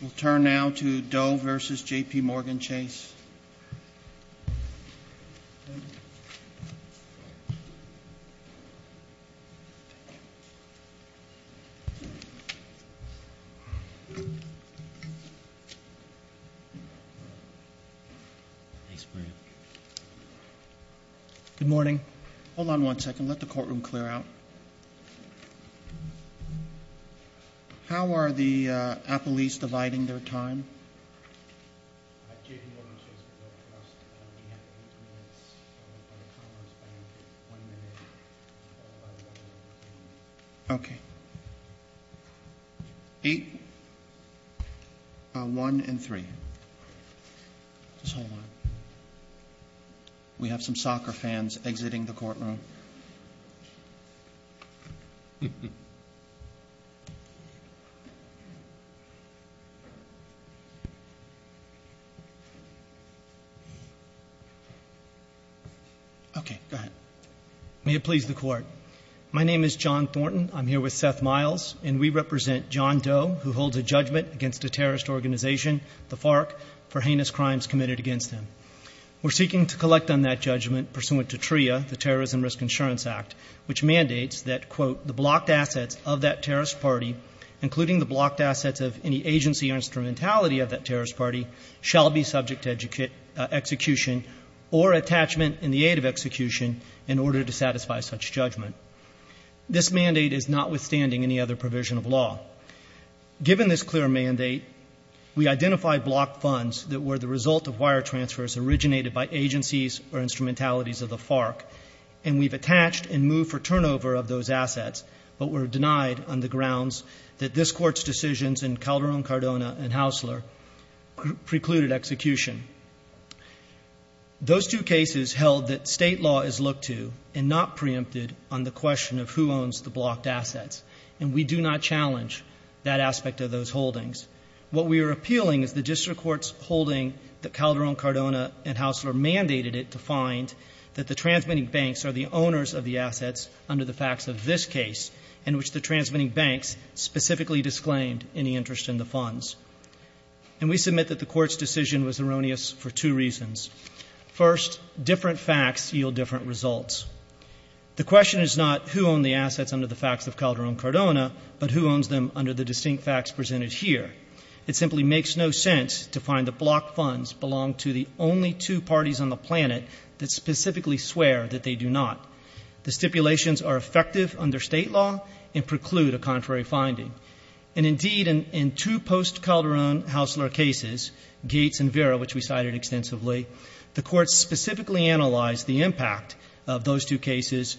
We'll turn now to Doe v. J.P. Morgan Chase. Good morning. Hold on one second. Let the courtroom clear out. How are the appellees dividing their time? Okay. One and three. We have some soccer fans exiting the courtroom. Okay. Go ahead. May it please the Court. My name is John Thornton. I'm here with Seth Miles. And we represent John Doe, who holds a judgment against a terrorist organization, the FARC, for heinous crimes committed against him. We're seeking to collect on that judgment pursuant to TRIA, the Terrorism Risk Insurance Act, which mandates that, quote, including the blocked assets of any agency or instrumentality of that terrorist party shall be subject to execution or attachment in the aid of execution in order to satisfy such judgment. This mandate is notwithstanding any other provision of law. Given this clear mandate, we identify blocked funds that were the result of wire transfers originated by agencies or instrumentalities of the FARC, and we've attached and moved for turnover of those assets, but were denied on the grounds that this Court's decisions in Calderón-Cardona and Haussler precluded execution. Those two cases held that state law is looked to and not preempted on the question of who owns the blocked assets. And we do not challenge that aspect of those holdings. What we are appealing is the district court's holding that Calderón-Cardona and Haussler mandated it to find that the transmitting banks are the owners of the assets under the facts of this case in which the transmitting banks specifically disclaimed any interest in the funds. And we submit that the Court's decision was erroneous for two reasons. First, different facts yield different results. The question is not who owned the assets under the facts of Calderón-Cardona, but who owns them under the distinct facts presented here. It simply makes no sense to find the blocked funds belong to the only two parties on the planet that specifically swear that they do not. The stipulations are effective under state law and preclude a contrary finding. And indeed, in two post-Calderón-Haussler cases, Gates and Vera, which we cited extensively, the Court specifically analyzed the impact of those two cases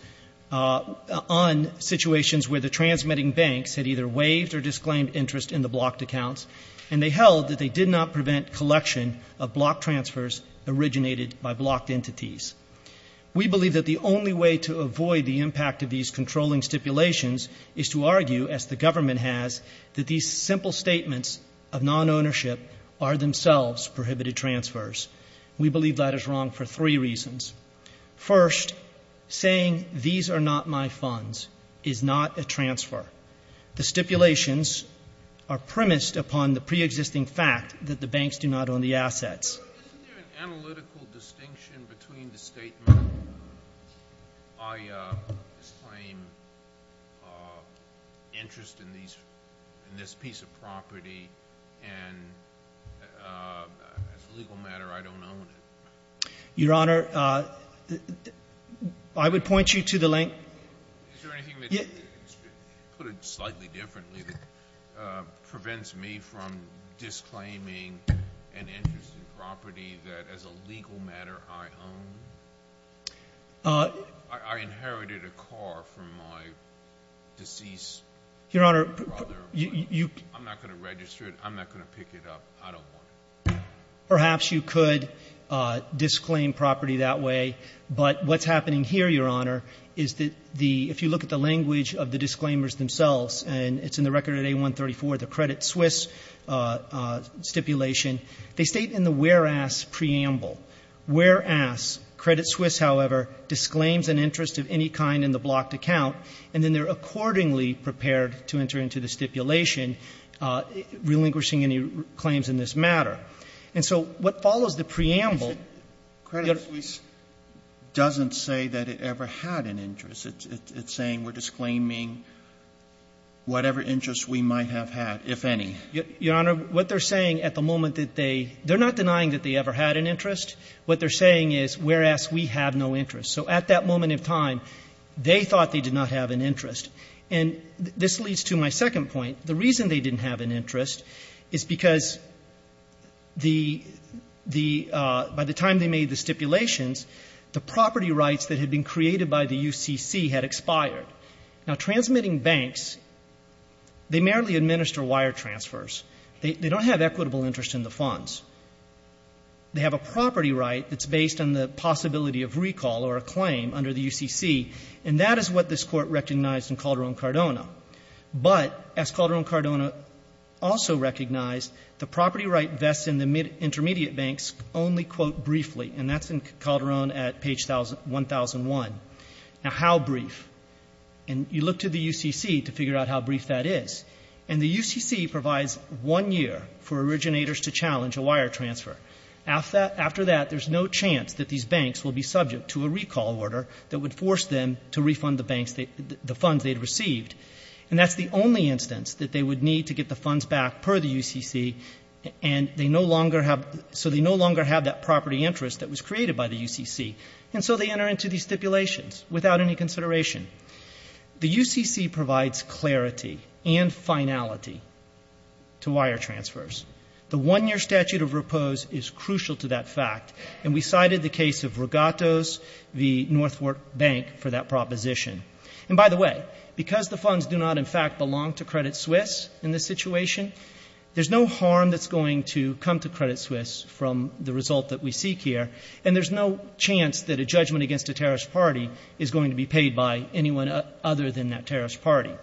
on situations where the transmitting banks had either waived or disclaimed interest in the blocked accounts, and they held that they did not prevent collection of blocked transfers originated by blocked entities. We believe that the only way to avoid the impact of these controlling stipulations is to argue, as the government has, that these simple statements of non-ownership are themselves prohibited transfers. We believe that is wrong for three reasons. First, saying, these are not my funds, is not a transfer. The stipulations are premised upon the pre-existing fact that the banks do not own the assets. Isn't there an analytical distinction between the statement I disclaim interest in this piece of property and as a legal matter, I don't own it? Your Honor, I would point you to the link Is there anything that, put it slightly differently, that prevents me from disclaiming an interest in property that, as a legal matter, I own? I inherited a car from my deceased brother. I'm not going to register it. I'm not going to pick it up. I don't want it. Perhaps you could disclaim property that way, but what's happening here, Your Honor, is that if you look at the language of the record at A134, the Credit Suisse stipulation, they state in the whereas preamble, whereas Credit Suisse, however, disclaims an interest of any kind in the blocked account, and then they're accordingly prepared to enter into the stipulation relinquishing any claims in this matter. And so what follows the preamble Credit Suisse doesn't say that it ever had an interest. It's saying we're disclaiming whatever interest we might have had, if any. Your Honor, what they're saying at the moment that they they're not denying that they ever had an interest. What they're saying is, whereas we have no interest. So at that moment in time, they thought they did not have an interest. And this leads to my second point. The reason they didn't have an interest is because the the by the time they made the stipulations, the property rights that had been created by the UCC had expired. Now, transmitting banks, they merely administer wire transfers. They don't have equitable interest in the funds. They have a property right that's based on the possibility of recall or a claim under the UCC, and that is what this Court recognized in Calderon-Cardona. But as Calderon-Cardona also recognized, the property right vests in the intermediate banks only, quote, briefly. And that's in Calderon at page 1001. Now, how brief? And you look to the UCC to figure out how brief that is. And the UCC provides one year for originators to challenge a wire transfer. After that, there's no chance that these banks will be subject to a recall order that would force them to refund the funds they'd received. And that's the only instance that they would need to get the funds back per the UCC, and they no longer have that property interest that was created by the UCC. And so they enter into these stipulations without any consideration. The UCC provides clarity and finality to wire transfers. The one-year statute of repose is crucial to that fact, and we cited the case of Regattos v. Northwark Bank for that proposition. And by the way, because the funds do not in fact belong to Credit Suisse in this situation, there's no harm that's going to come to Credit Suisse from the result that we seek here, and there's no chance that a judgment against a terrorist party is going to be paid by anyone other than that terrorist party.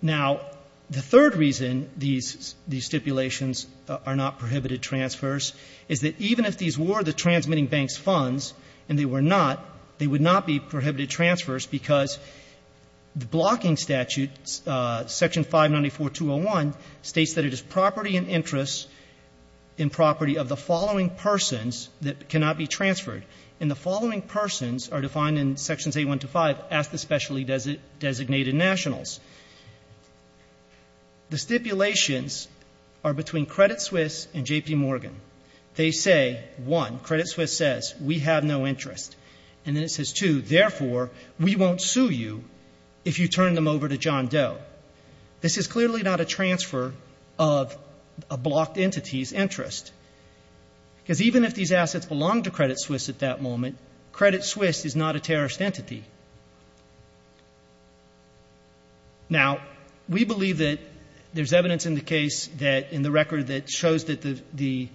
Now, the third reason these stipulations are not prohibited transfers is that even if these were the transmitting bank's funds, and they were not, they would not be prohibited transfers because the blocking statute, Section 594.201, states that it is property and interest in property of the following persons that cannot be transferred. And the following persons are defined in Sections 81 to 5 as the specially designated nationals. The stipulations are between Credit Suisse and J.P. Morgan. They say, one, Credit Suisse says, we have no interest. And then it says, two, therefore, we won't sue you if you turn them over to John Doe. This is clearly not a transfer of a blocked entity's interest. Because even if these assets belong to Credit Suisse at that moment, Credit Suisse is not a terrorist entity. Now, we believe that there's evidence in the case that in the record that shows that the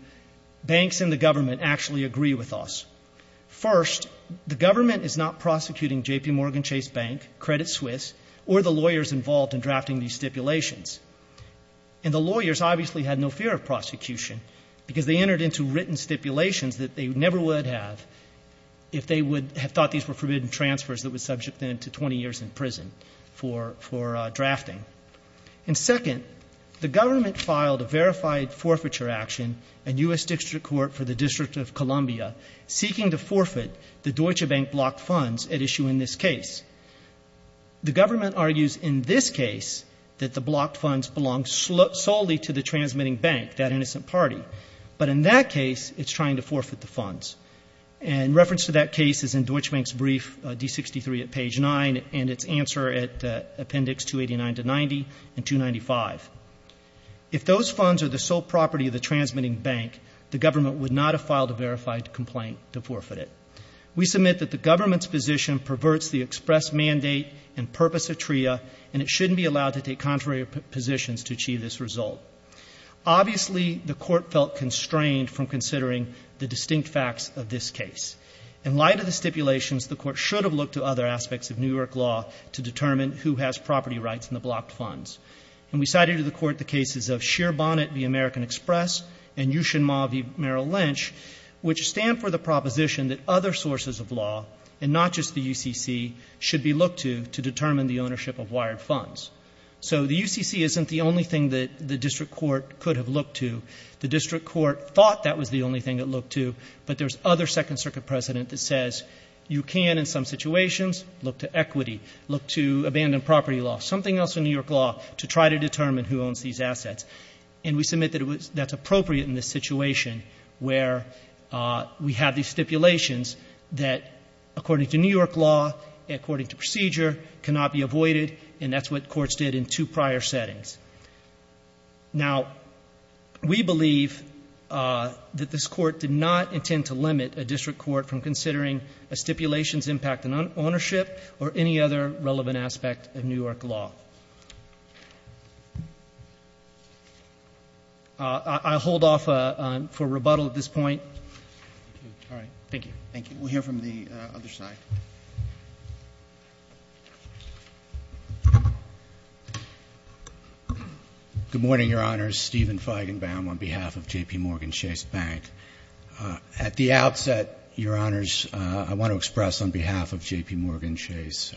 banks and the government actually agree with us. First, the government is not prosecuting J.P. Morgan Chase Bank, Credit Suisse, or the lawyers involved in drafting these stipulations. And the lawyers obviously had no fear of prosecution because they entered into written stipulations that they never would have if they would have thought these were forbidden transfers that would subject them to 20 years in prison for drafting. And second, the government filed a verified forfeiture action in U.S. District Court for the District of Columbia seeking to forfeit the Deutsche Bank blocked funds at issue in this case. The government argues in this case that the blocked funds belong solely to the transmitting bank, that innocent party. But in that case, it's trying to forfeit the funds. And reference to that case is in Deutsche Bank's brief, D63 at page 9, and its answer at appendix 289 to 90 and 295. If those funds are the sole property of the transmitting bank, the government would not have filed a verified complaint to forfeit it. We submit that the government's position perverts the express mandate and purpose of TRIA, and it shouldn't be allowed to take contrary positions to achieve this result. Obviously, the court felt constrained from considering the distinct facts of this case. In light of the stipulations, the court should have looked to other aspects of New York law to determine who has property rights in the blocked funds. And we cited to the court the cases of Shear Bonnet v. American Express and Ushinma v. Merrill Lynch, which stand for the proposition that other sources of law, and not just the UCC, should be looked to to determine the ownership of wired funds. So the UCC isn't the only thing that the District Court could have looked to. The District Court thought that was the only thing it looked to, but there's other Second Circuit precedent that says you can, in some situations, look to equity, look to abandoned property law, something else in New York law to try to determine who owns these assets. And we submit that that's appropriate in this situation where we have these stipulations that, according to New York law, according to procedure, cannot be avoided, and that's what courts did in two prior settings. Now, we believe that this Court did not intend to limit a district court from considering a stipulation's impact on ownership or any other relevant aspect of New York law. I'll hold off for rebuttal at this point. All right. Thank you. Thank you. We'll hear from the other side. Good morning, Your Honors. Stephen Feigenbaum on behalf of JPMorgan Chase Bank. At the outset, Your Honors, I want to express on behalf of JPMorgan Chase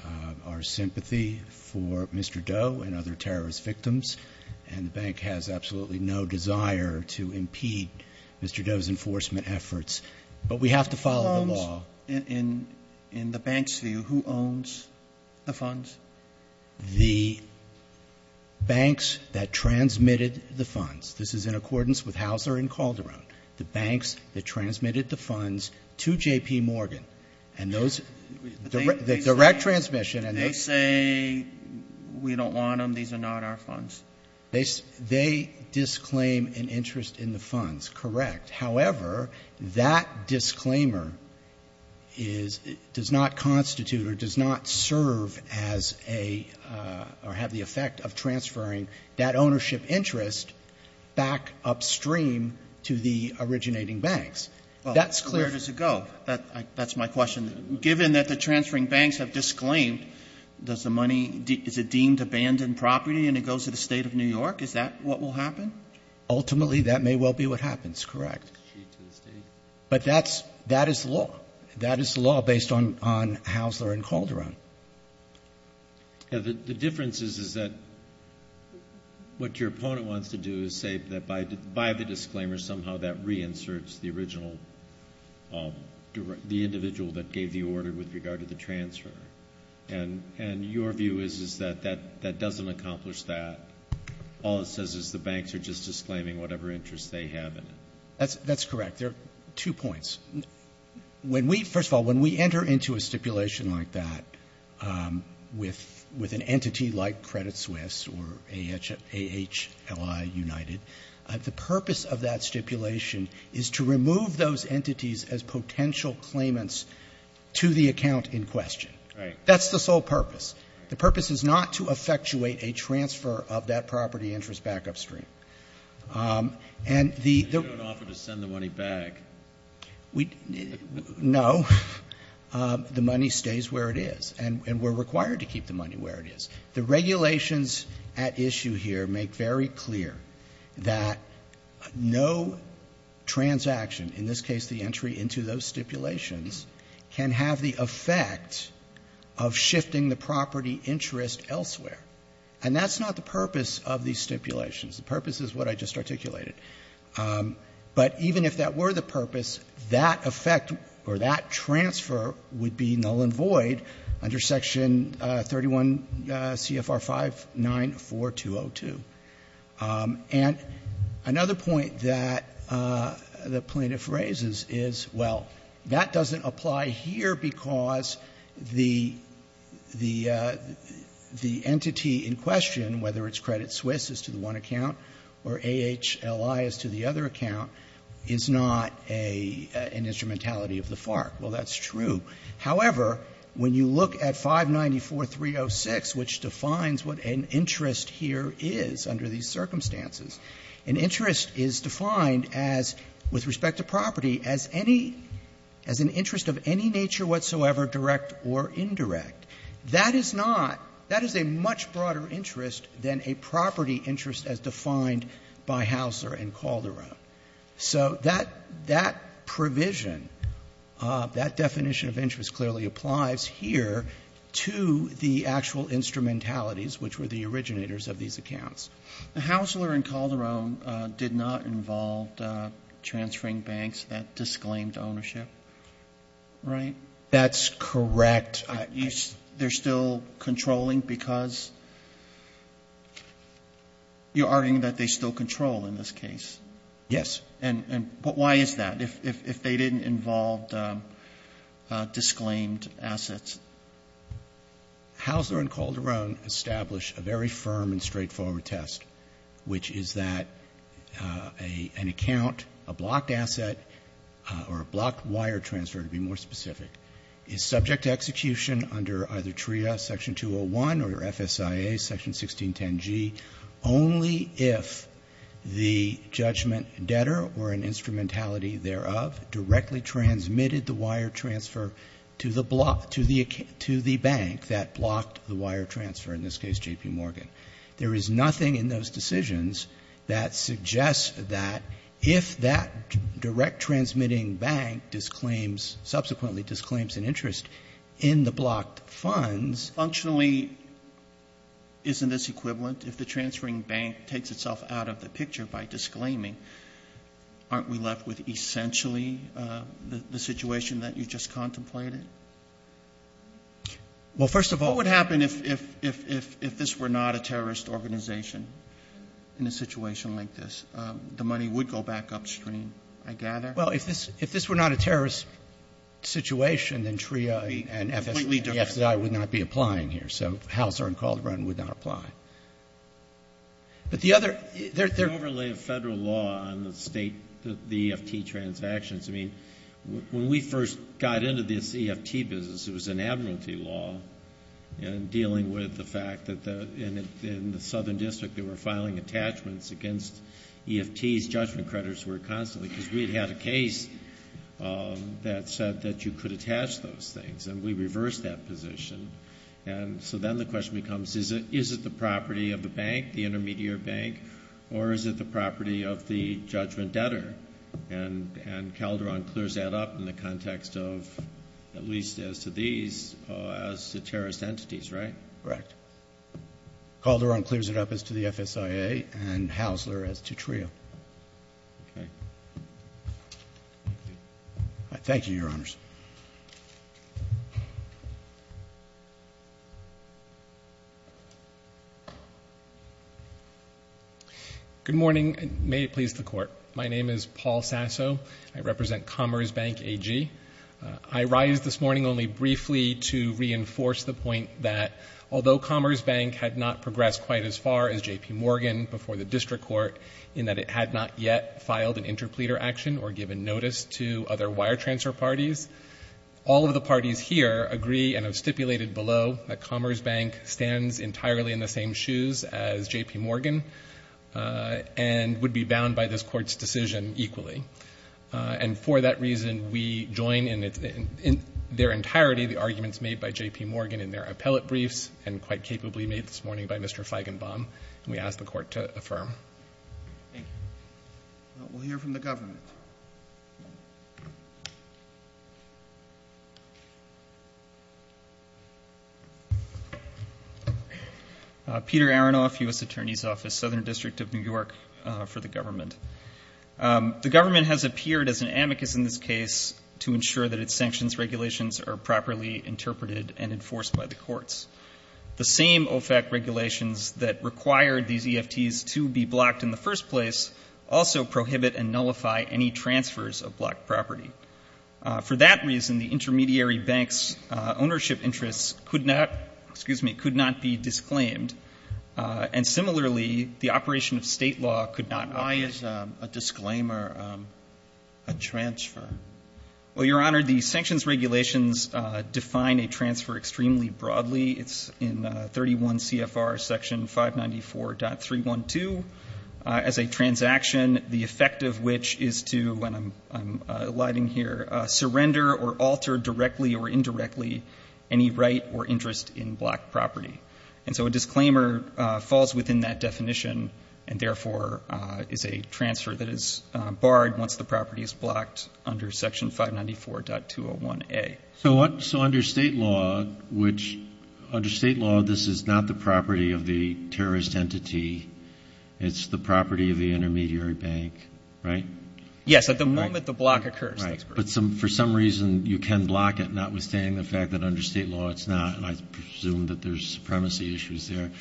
our sympathy for Mr. Doe and other terrorist victims, and the bank has absolutely no desire to impede Mr. Doe's enforcement efforts. But we have to follow the law. Who owns? In the bank's view, who owns the funds? The banks that transmitted the funds. This is in accordance with Hauser and Calderon. The banks that transmitted the funds to JPMorgan. And those direct transmission and those they say we don't want them. These are not our funds. They disclaim an interest in the funds. However, that disclaimer is, does not constitute or does not serve as a, or have the effect of transferring that ownership interest back upstream to the originating banks. That's clear. Where does it go? That's my question. Given that the transferring banks have disclaimed, does the money, is it deemed abandoned property and it goes to the State of New York? Is that what will happen? Ultimately, that may well be what happens. Correct. But that's, that is the law. That is the law based on Hauser and Calderon. The difference is that what your opponent wants to do is say that by the disclaimer somehow that reinserts the original, the individual that gave the order with regard to the transfer. And your view is that that doesn't accomplish that. All it says is the banks are just disclaiming whatever interest they have in it. That's correct. There are two points. When we, first of all, when we enter into a stipulation like that with an entity like Credit Suisse or AHLI United, the purpose of that stipulation is to remove those entities as potential claimants to the account in question. Right. That's the sole purpose. The purpose is not to effectuate a transfer of that property interest back upstream. And the ---- But you don't offer to send the money back. We, no. The money stays where it is. And we're required to keep the money where it is. The regulations at issue here make very clear that no transaction, in this case the And that's not the purpose of these stipulations. The purpose is what I just articulated. But even if that were the purpose, that effect or that transfer would be null and void under Section 31 CFR 594202. And another point that the plaintiff raises is, well, that doesn't apply here because the entity in question, whether it's Credit Suisse is to the one account or AHLI is to the other account, is not an instrumentality of the FARC. Well, that's true. However, when you look at 594306, which defines what an interest here is under these circumstances, an interest is defined as, with respect to property, as any ---- as an indirect or indirect. That is not ---- that is a much broader interest than a property interest as defined by Haussler and Calderon. So that provision, that definition of interest clearly applies here to the actual instrumentalities which were the originators of these accounts. The Haussler and Calderon did not involve transferring banks that disclaimed ownership, right? That's correct. They're still controlling because you're arguing that they still control in this case? Yes. And why is that, if they didn't involve disclaimed assets? Haussler and Calderon established a very firm and straightforward test, which is that an account, a blocked asset, or a blocked wire transfer, to be more specific, is subject to execution under either TRIA Section 201 or FSIA Section 1610G only if the judgment debtor or an instrumentality thereof directly transmitted the wire transfer to the bank that blocked the wire transfer, in this case J.P. Morgan. There is nothing in those decisions that suggests that if that direct transmitting bank disclaims, subsequently disclaims an interest in the blocked funds. Functionally, isn't this equivalent? If the transferring bank takes itself out of the picture by disclaiming, aren't we left with essentially the situation that you just contemplated? Well, first of all. What would happen if this were not a terrorist organization in a situation like this? The money would go back upstream, I gather? Well, if this were not a terrorist situation, then TRIA and FSIA would not be applying here. So Haussler and Calderon would not apply. But the other... There's an overlay of Federal law on the state, the EFT transactions. When we first got into this EFT business, it was an admiralty law, and dealing with the fact that in the Southern District, they were filing attachments against EFTs, judgment credits were constantly, because we had had a case that said that you could attach those things, and we reversed that position. So then the question becomes, is it the property of the bank, the Calderon clears that up in the context of, at least as to these, as to terrorist entities, right? Correct. Calderon clears it up as to the FSIA, and Haussler as to TRIA. Okay. Thank you, Your Honors. Good morning, and may it please the Court. My name is Paul Sasso. I represent Commerce Bank AG. I rise this morning only briefly to reinforce the point that although Commerce Bank had not progressed quite as far as J.P. Morgan before the district court in that it had not yet filed an interpleader action or given notice to other wire transfer parties, all of the parties here agree and have stipulated below that Commerce Bank stands entirely in the same shoes as J.P. Morgan and would be bound by this Court's decision equally. And for that reason, we join in their entirety the arguments made by J.P. Morgan in their appellate briefs and quite capably made this morning by Mr. Feigenbaum, and we ask the Court to affirm. Thank you. We'll hear from the government. Peter Aronoff, U.S. Attorney's Office, Southern District of New York, for the government. The government has appeared as an amicus in this case to ensure that its sanctions regulations are properly interpreted and enforced by the courts. The same OFAC regulations that required these EFTs to be blocked in the first place also prohibit and nullify any transfers of blocked property. For that reason, the intermediary bank's ownership interests could not, excuse me, could not be disclaimed, and similarly, the operation of State law could not be disclaimed. Sotomayor, why is a disclaimer a transfer? Well, Your Honor, the sanctions regulations define a transfer extremely broadly. It's in 31 CFR section 594.312. As a transaction, the effect of which is to, when I'm allotting here, surrender or alter directly or indirectly any right or interest in blocked property. And so a disclaimer falls within that definition and, therefore, is a transfer that is barred once the property is blocked under section 594.201A. So under State law, which under State law, this is not the property of the terrorist entity, it's the property of the intermediary bank, right? Yes. At the moment the block occurs. Right. But for some reason, you can block it, notwithstanding the fact that under State law it's not, and I presume that there's supremacy issues there.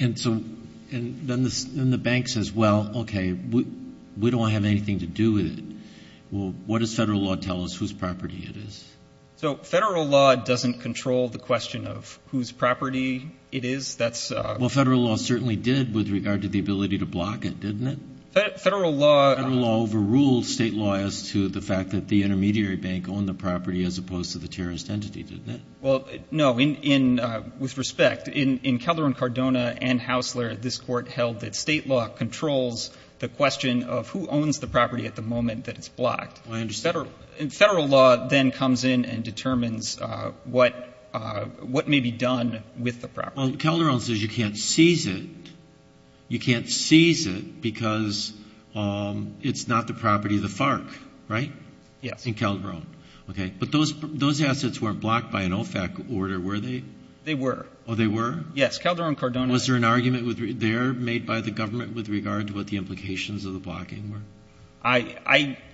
And so then the bank says, well, okay, we don't have anything to do with it. Well, what does Federal law tell us whose property it is? So Federal law doesn't control the question of whose property it is. That's a ---- Well, Federal law certainly did with regard to the ability to block it, didn't it? Federal law ---- Federal law overruled State law as to the fact that the intermediary bank owned the property as opposed to the terrorist entity, didn't it? Well, no. With respect, in Calderon, Cardona, and Haussler, this Court held that State law controls the question of who owns the property at the moment that it's blocked. Well, I understand. Federal law then comes in and determines what may be done with the property. Well, Calderon says you can't seize it. You can't seize it because it's not the property of the FARC, right? Yes. In Calderon. Okay. But those assets weren't blocked by an OFAC order, were they? They were. Oh, they were? Yes. Calderon, Cardona ---- Was there an argument there made by the government with regard to what the implications of the blocking were? I'm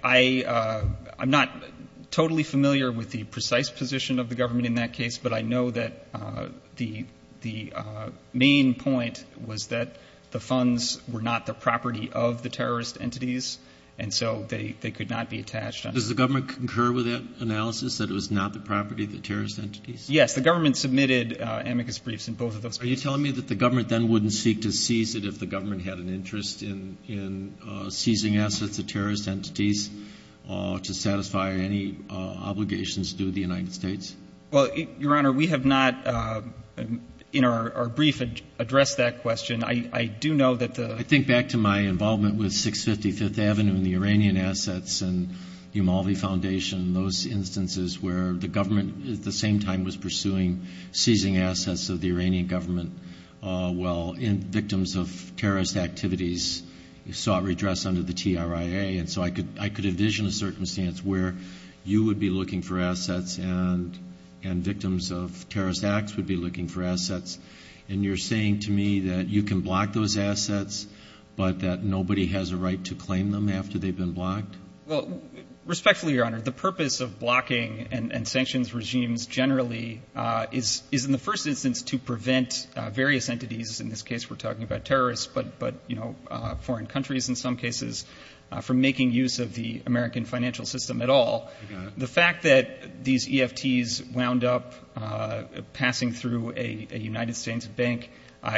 not totally familiar with the precise position of the government in that case, but I know that the main point was that the funds were not the property of the terrorist entities, and so they could not be attached. Does the government concur with that analysis, that it was not the property of the terrorist entities? Yes. The government submitted amicus briefs in both of those cases. Are you telling me that the government then wouldn't seek to seize it if the government had an interest in seizing assets of terrorist entities to satisfy any obligations due to the United States? Well, Your Honor, we have not in our brief addressed that question. I do know that the ---- I think back to my involvement with 655th Avenue and the Iranian assets and the Malvi Foundation, those instances where the government at the same time was pursuing seizing assets of the Iranian government while victims of terrorist activities sought redress under the TRIA. And so I could envision a circumstance where you would be looking for assets and victims of terrorist acts would be looking for assets, and you're saying to me that you can block those assets, but that nobody has a right to claim them after they've been blocked? Well, respectfully, Your Honor, the purpose of blocking and sanctions regimes generally is in the first instance to prevent various entities, in this case we're talking about terrorists, but, you know, foreign countries in some cases from making use of the American financial system at all. The fact that these EFTs wound up passing through a United States bank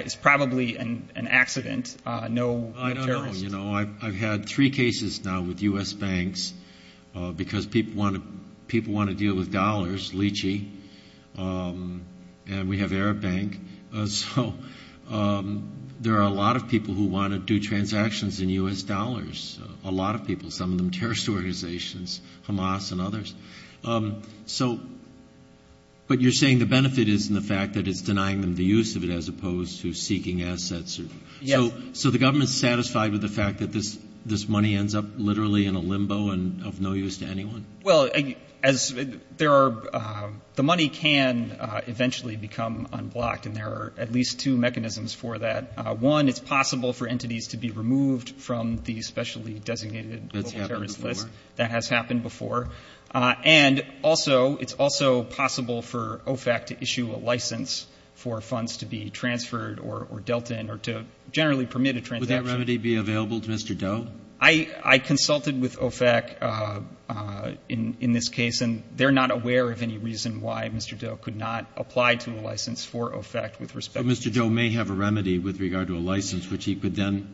is probably an accident, no terrorist. I don't know. You know, I've had three cases now with U.S. banks because people want to deal with dollars, lychee, and we have Arab Bank. So there are a lot of people who want to do transactions in U.S. dollars, a lot of people, some of them terrorist organizations, Hamas and others. So but you're saying the benefit is in the fact that it's denying them the use of it as opposed to seeking assets? Yes. So the government is satisfied with the fact that this money ends up literally in a limbo and of no use to anyone? Well, as there are the money can eventually become unblocked, and there are at least two mechanisms for that. One, it's possible for entities to be removed from the specially designated terrorist list. That's happened before. That has happened before. And also, it's also possible for OFAC to issue a license for funds to be transferred or dealt in or to generally permit a transaction. Would that remedy be available to Mr. Doe? I consulted with OFAC in this case, and they're not aware of any reason why Mr. Doe could not apply to a license for OFAC with respect to this. So Mr. Doe may have a remedy with regard to a license, which he could then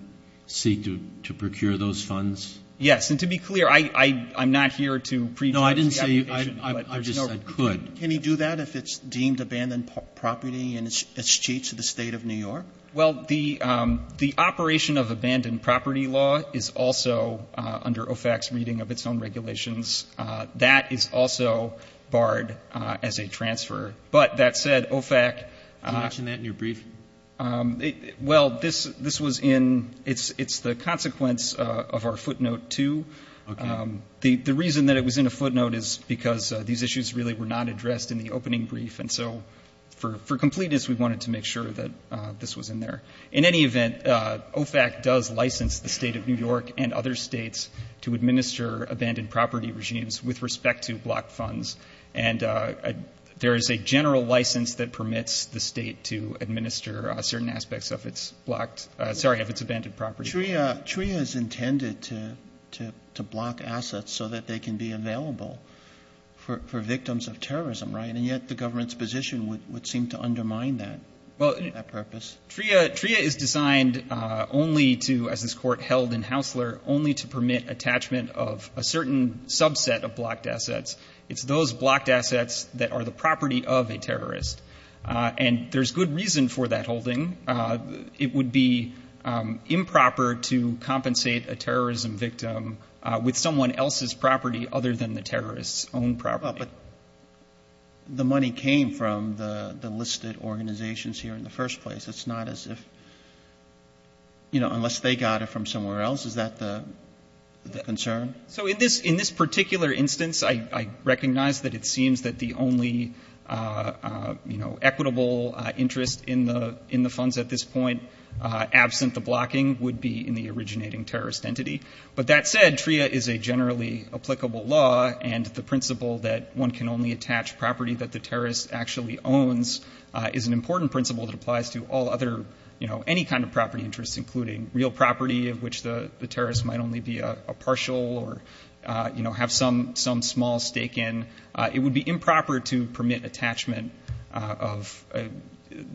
seek to procure those funds? Yes. And to be clear, I'm not here to prejudge the application. No, I didn't say you could. I just said could. Can he do that if it's deemed abandoned property and it's changed to the State of New York? Well, the operation of abandoned property law is also under OFAC's reading of its own regulations. That is also barred as a transfer. But that said, OFAC. Can you mention that in your brief? Well, this was in the consequence of our footnote 2. The reason that it was in a footnote is because these issues really were not addressed in the opening brief. And so for completeness, we wanted to make sure that this was in there. In any event, OFAC does license the State of New York and other states to administer abandoned property regimes with respect to blocked funds. And there is a general license that permits the State to administer certain aspects of its blocked – sorry, of its abandoned property. TRIA is intended to block assets so that they can be available for victims of terrorism, right? And yet the government's position would seem to undermine that purpose. TRIA is designed only to, as this Court held in Haussler, only to permit attachment of a certain subset of blocked assets. It's those blocked assets that are the property of a terrorist. And there's good reason for that holding. It would be improper to compensate a terrorism victim with someone else's property other than the terrorist's own property. But the money came from the listed organizations here in the first place. It's not as if – you know, unless they got it from somewhere else. Is that the concern? So in this particular instance, I recognize that it seems that the only, you know, equitable interest in the funds at this point, absent the blocking, would be in the originating terrorist entity. But that said, TRIA is a generally applicable law. And the principle that one can only attach property that the terrorist actually owns is an important principle that applies to all other, you know, any kind of property interests, including real property, of which the terrorist might only be a partial or, you know, have some small stake in. It would be improper to permit attachment of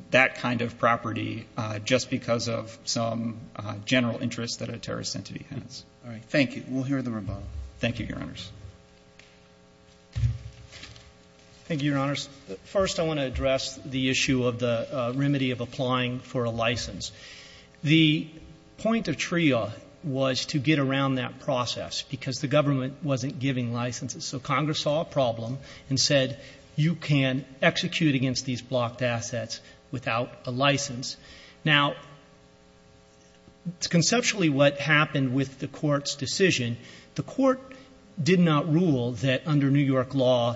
that kind of property just because of some general interest that a terrorist entity has. Roberts. All right. Thank you. We'll hear the rebuttal. Thank you, Your Honors. Thank you, Your Honors. First, I want to address the issue of the remedy of applying for a license. The point of TRIA was to get around that process, because the government wasn't giving licenses. So Congress saw a problem and said, you can execute against these blocked assets without a license. Now, conceptually, what happened with the Court's decision, the Court did not rule that under New York law,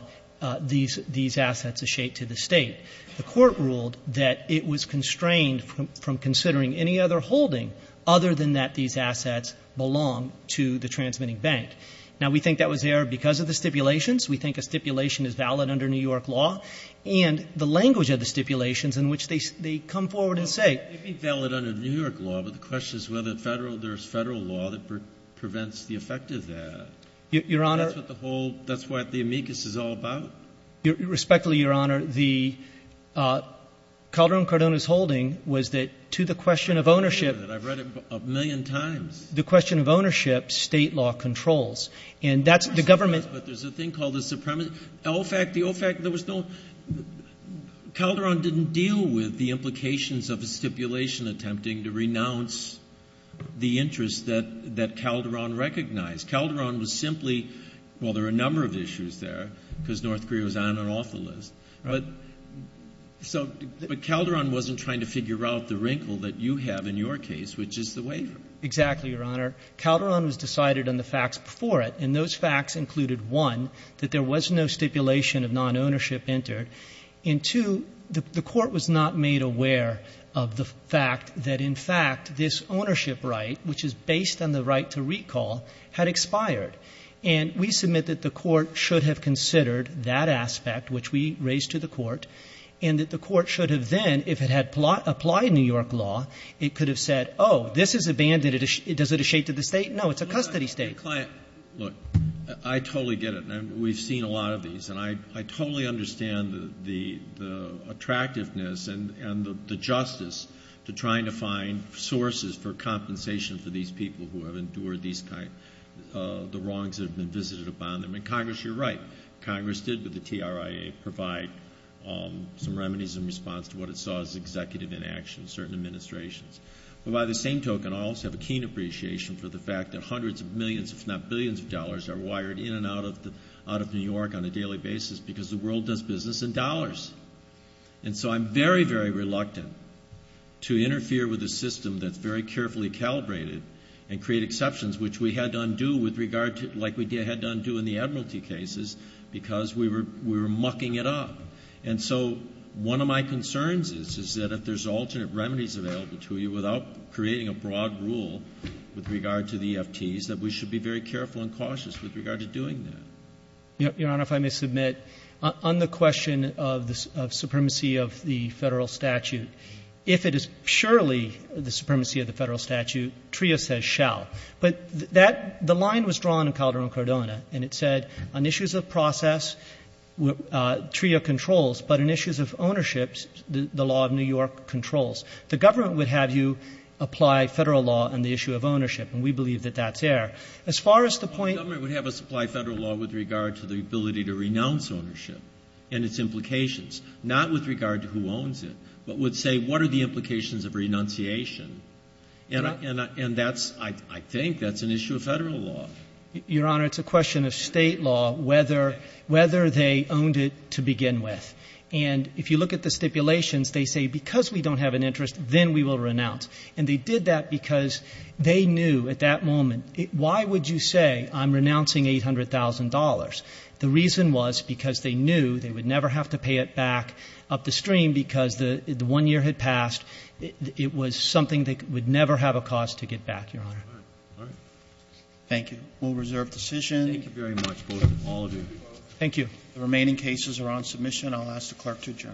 these assets eschate to the State. The Court ruled that it was constrained from considering any other holding other than that these assets belong to the transmitting bank. Now, we think that was there because of the stipulations. We think a stipulation is valid under New York law. And the language of the stipulations in which they come forward and say — Well, it may be valid under New York law, but the question is whether there's Federal law that prevents the effect of that. Your Honor — That's what the whole — that's what the amicus is all about? Respectfully, Your Honor, the — Calderon-Cardona's holding was that to the question of ownership — I've read it a million times. The question of ownership, State law controls. And that's — the government — But there's a thing called the supremacy. The old fact, the old fact, there was no — Calderon didn't deal with the implications of a stipulation attempting to renounce the interests that Calderon recognized. Calderon was simply — well, there were a number of issues there, because North Carolina is off the list. But so — but Calderon wasn't trying to figure out the wrinkle that you have in your case, which is the waiver. Exactly, Your Honor. Calderon was decided on the facts before it. And those facts included, one, that there was no stipulation of non-ownership entered, and, two, the Court was not made aware of the fact that, in fact, this ownership right, which is based on the right to recall, had expired. And we submit that the Court should have considered that aspect, which we raised to the Court, and that the Court should have then, if it had applied New York law, it could have said, oh, this is abandoned. Does it ashame to the State? No, it's a custody State. Look, I totally get it. We've seen a lot of these. And I totally understand the attractiveness and the justice to trying to find sources for compensation for these people who have endured these kind — the wrongs that have been visited upon them. And, Congress, you're right. Congress did, with the TRIA, provide some remedies in response to what it saw as executive inaction, certain administrations. But by the same token, I also have a keen appreciation for the fact that hundreds of millions, if not billions of dollars, are wired in and out of New York on a daily basis because the world does business in dollars. And so I'm very, very reluctant to interfere with a system that's very carefully calibrated and create exceptions, which we had to undo with regard to — like we had to undo in the Admiralty cases because we were — we were mucking it up. And so one of my concerns is, is that if there's alternate remedies available to you without creating a broad rule with regard to the EFTs, that we should be very careful and cautious with regard to doing that. Your Honor, if I may submit, on the question of the — of supremacy of the Federal statute, if it is surely the supremacy of the Federal statute, TRIA says shall. But that — the line was drawn in Calderon-Cordona, and it said, on issues of process, TRIA controls, but on issues of ownership, the law of New York controls. The government would have you apply Federal law on the issue of ownership, and we believe that that's air. As far as the point — We would apply Federal law with regard to the ability to renounce ownership and its implications, not with regard to who owns it, but would say, what are the implications of renunciation? And that's — I think that's an issue of Federal law. Your Honor, it's a question of State law, whether they owned it to begin with. And if you look at the stipulations, they say, because we don't have an interest, then we will renounce. And they did that because they knew at that moment, why would you say I'm renouncing $800,000? The reason was because they knew they would never have to pay it back upstream because the one year had passed. It was something that would never have a cause to get back, Your Honor. Roberts. Thank you. We'll reserve decision. Thank you very much. All adieu. Thank you. The remaining cases are on submission. I'll ask the Clerk to adjourn. Thank you.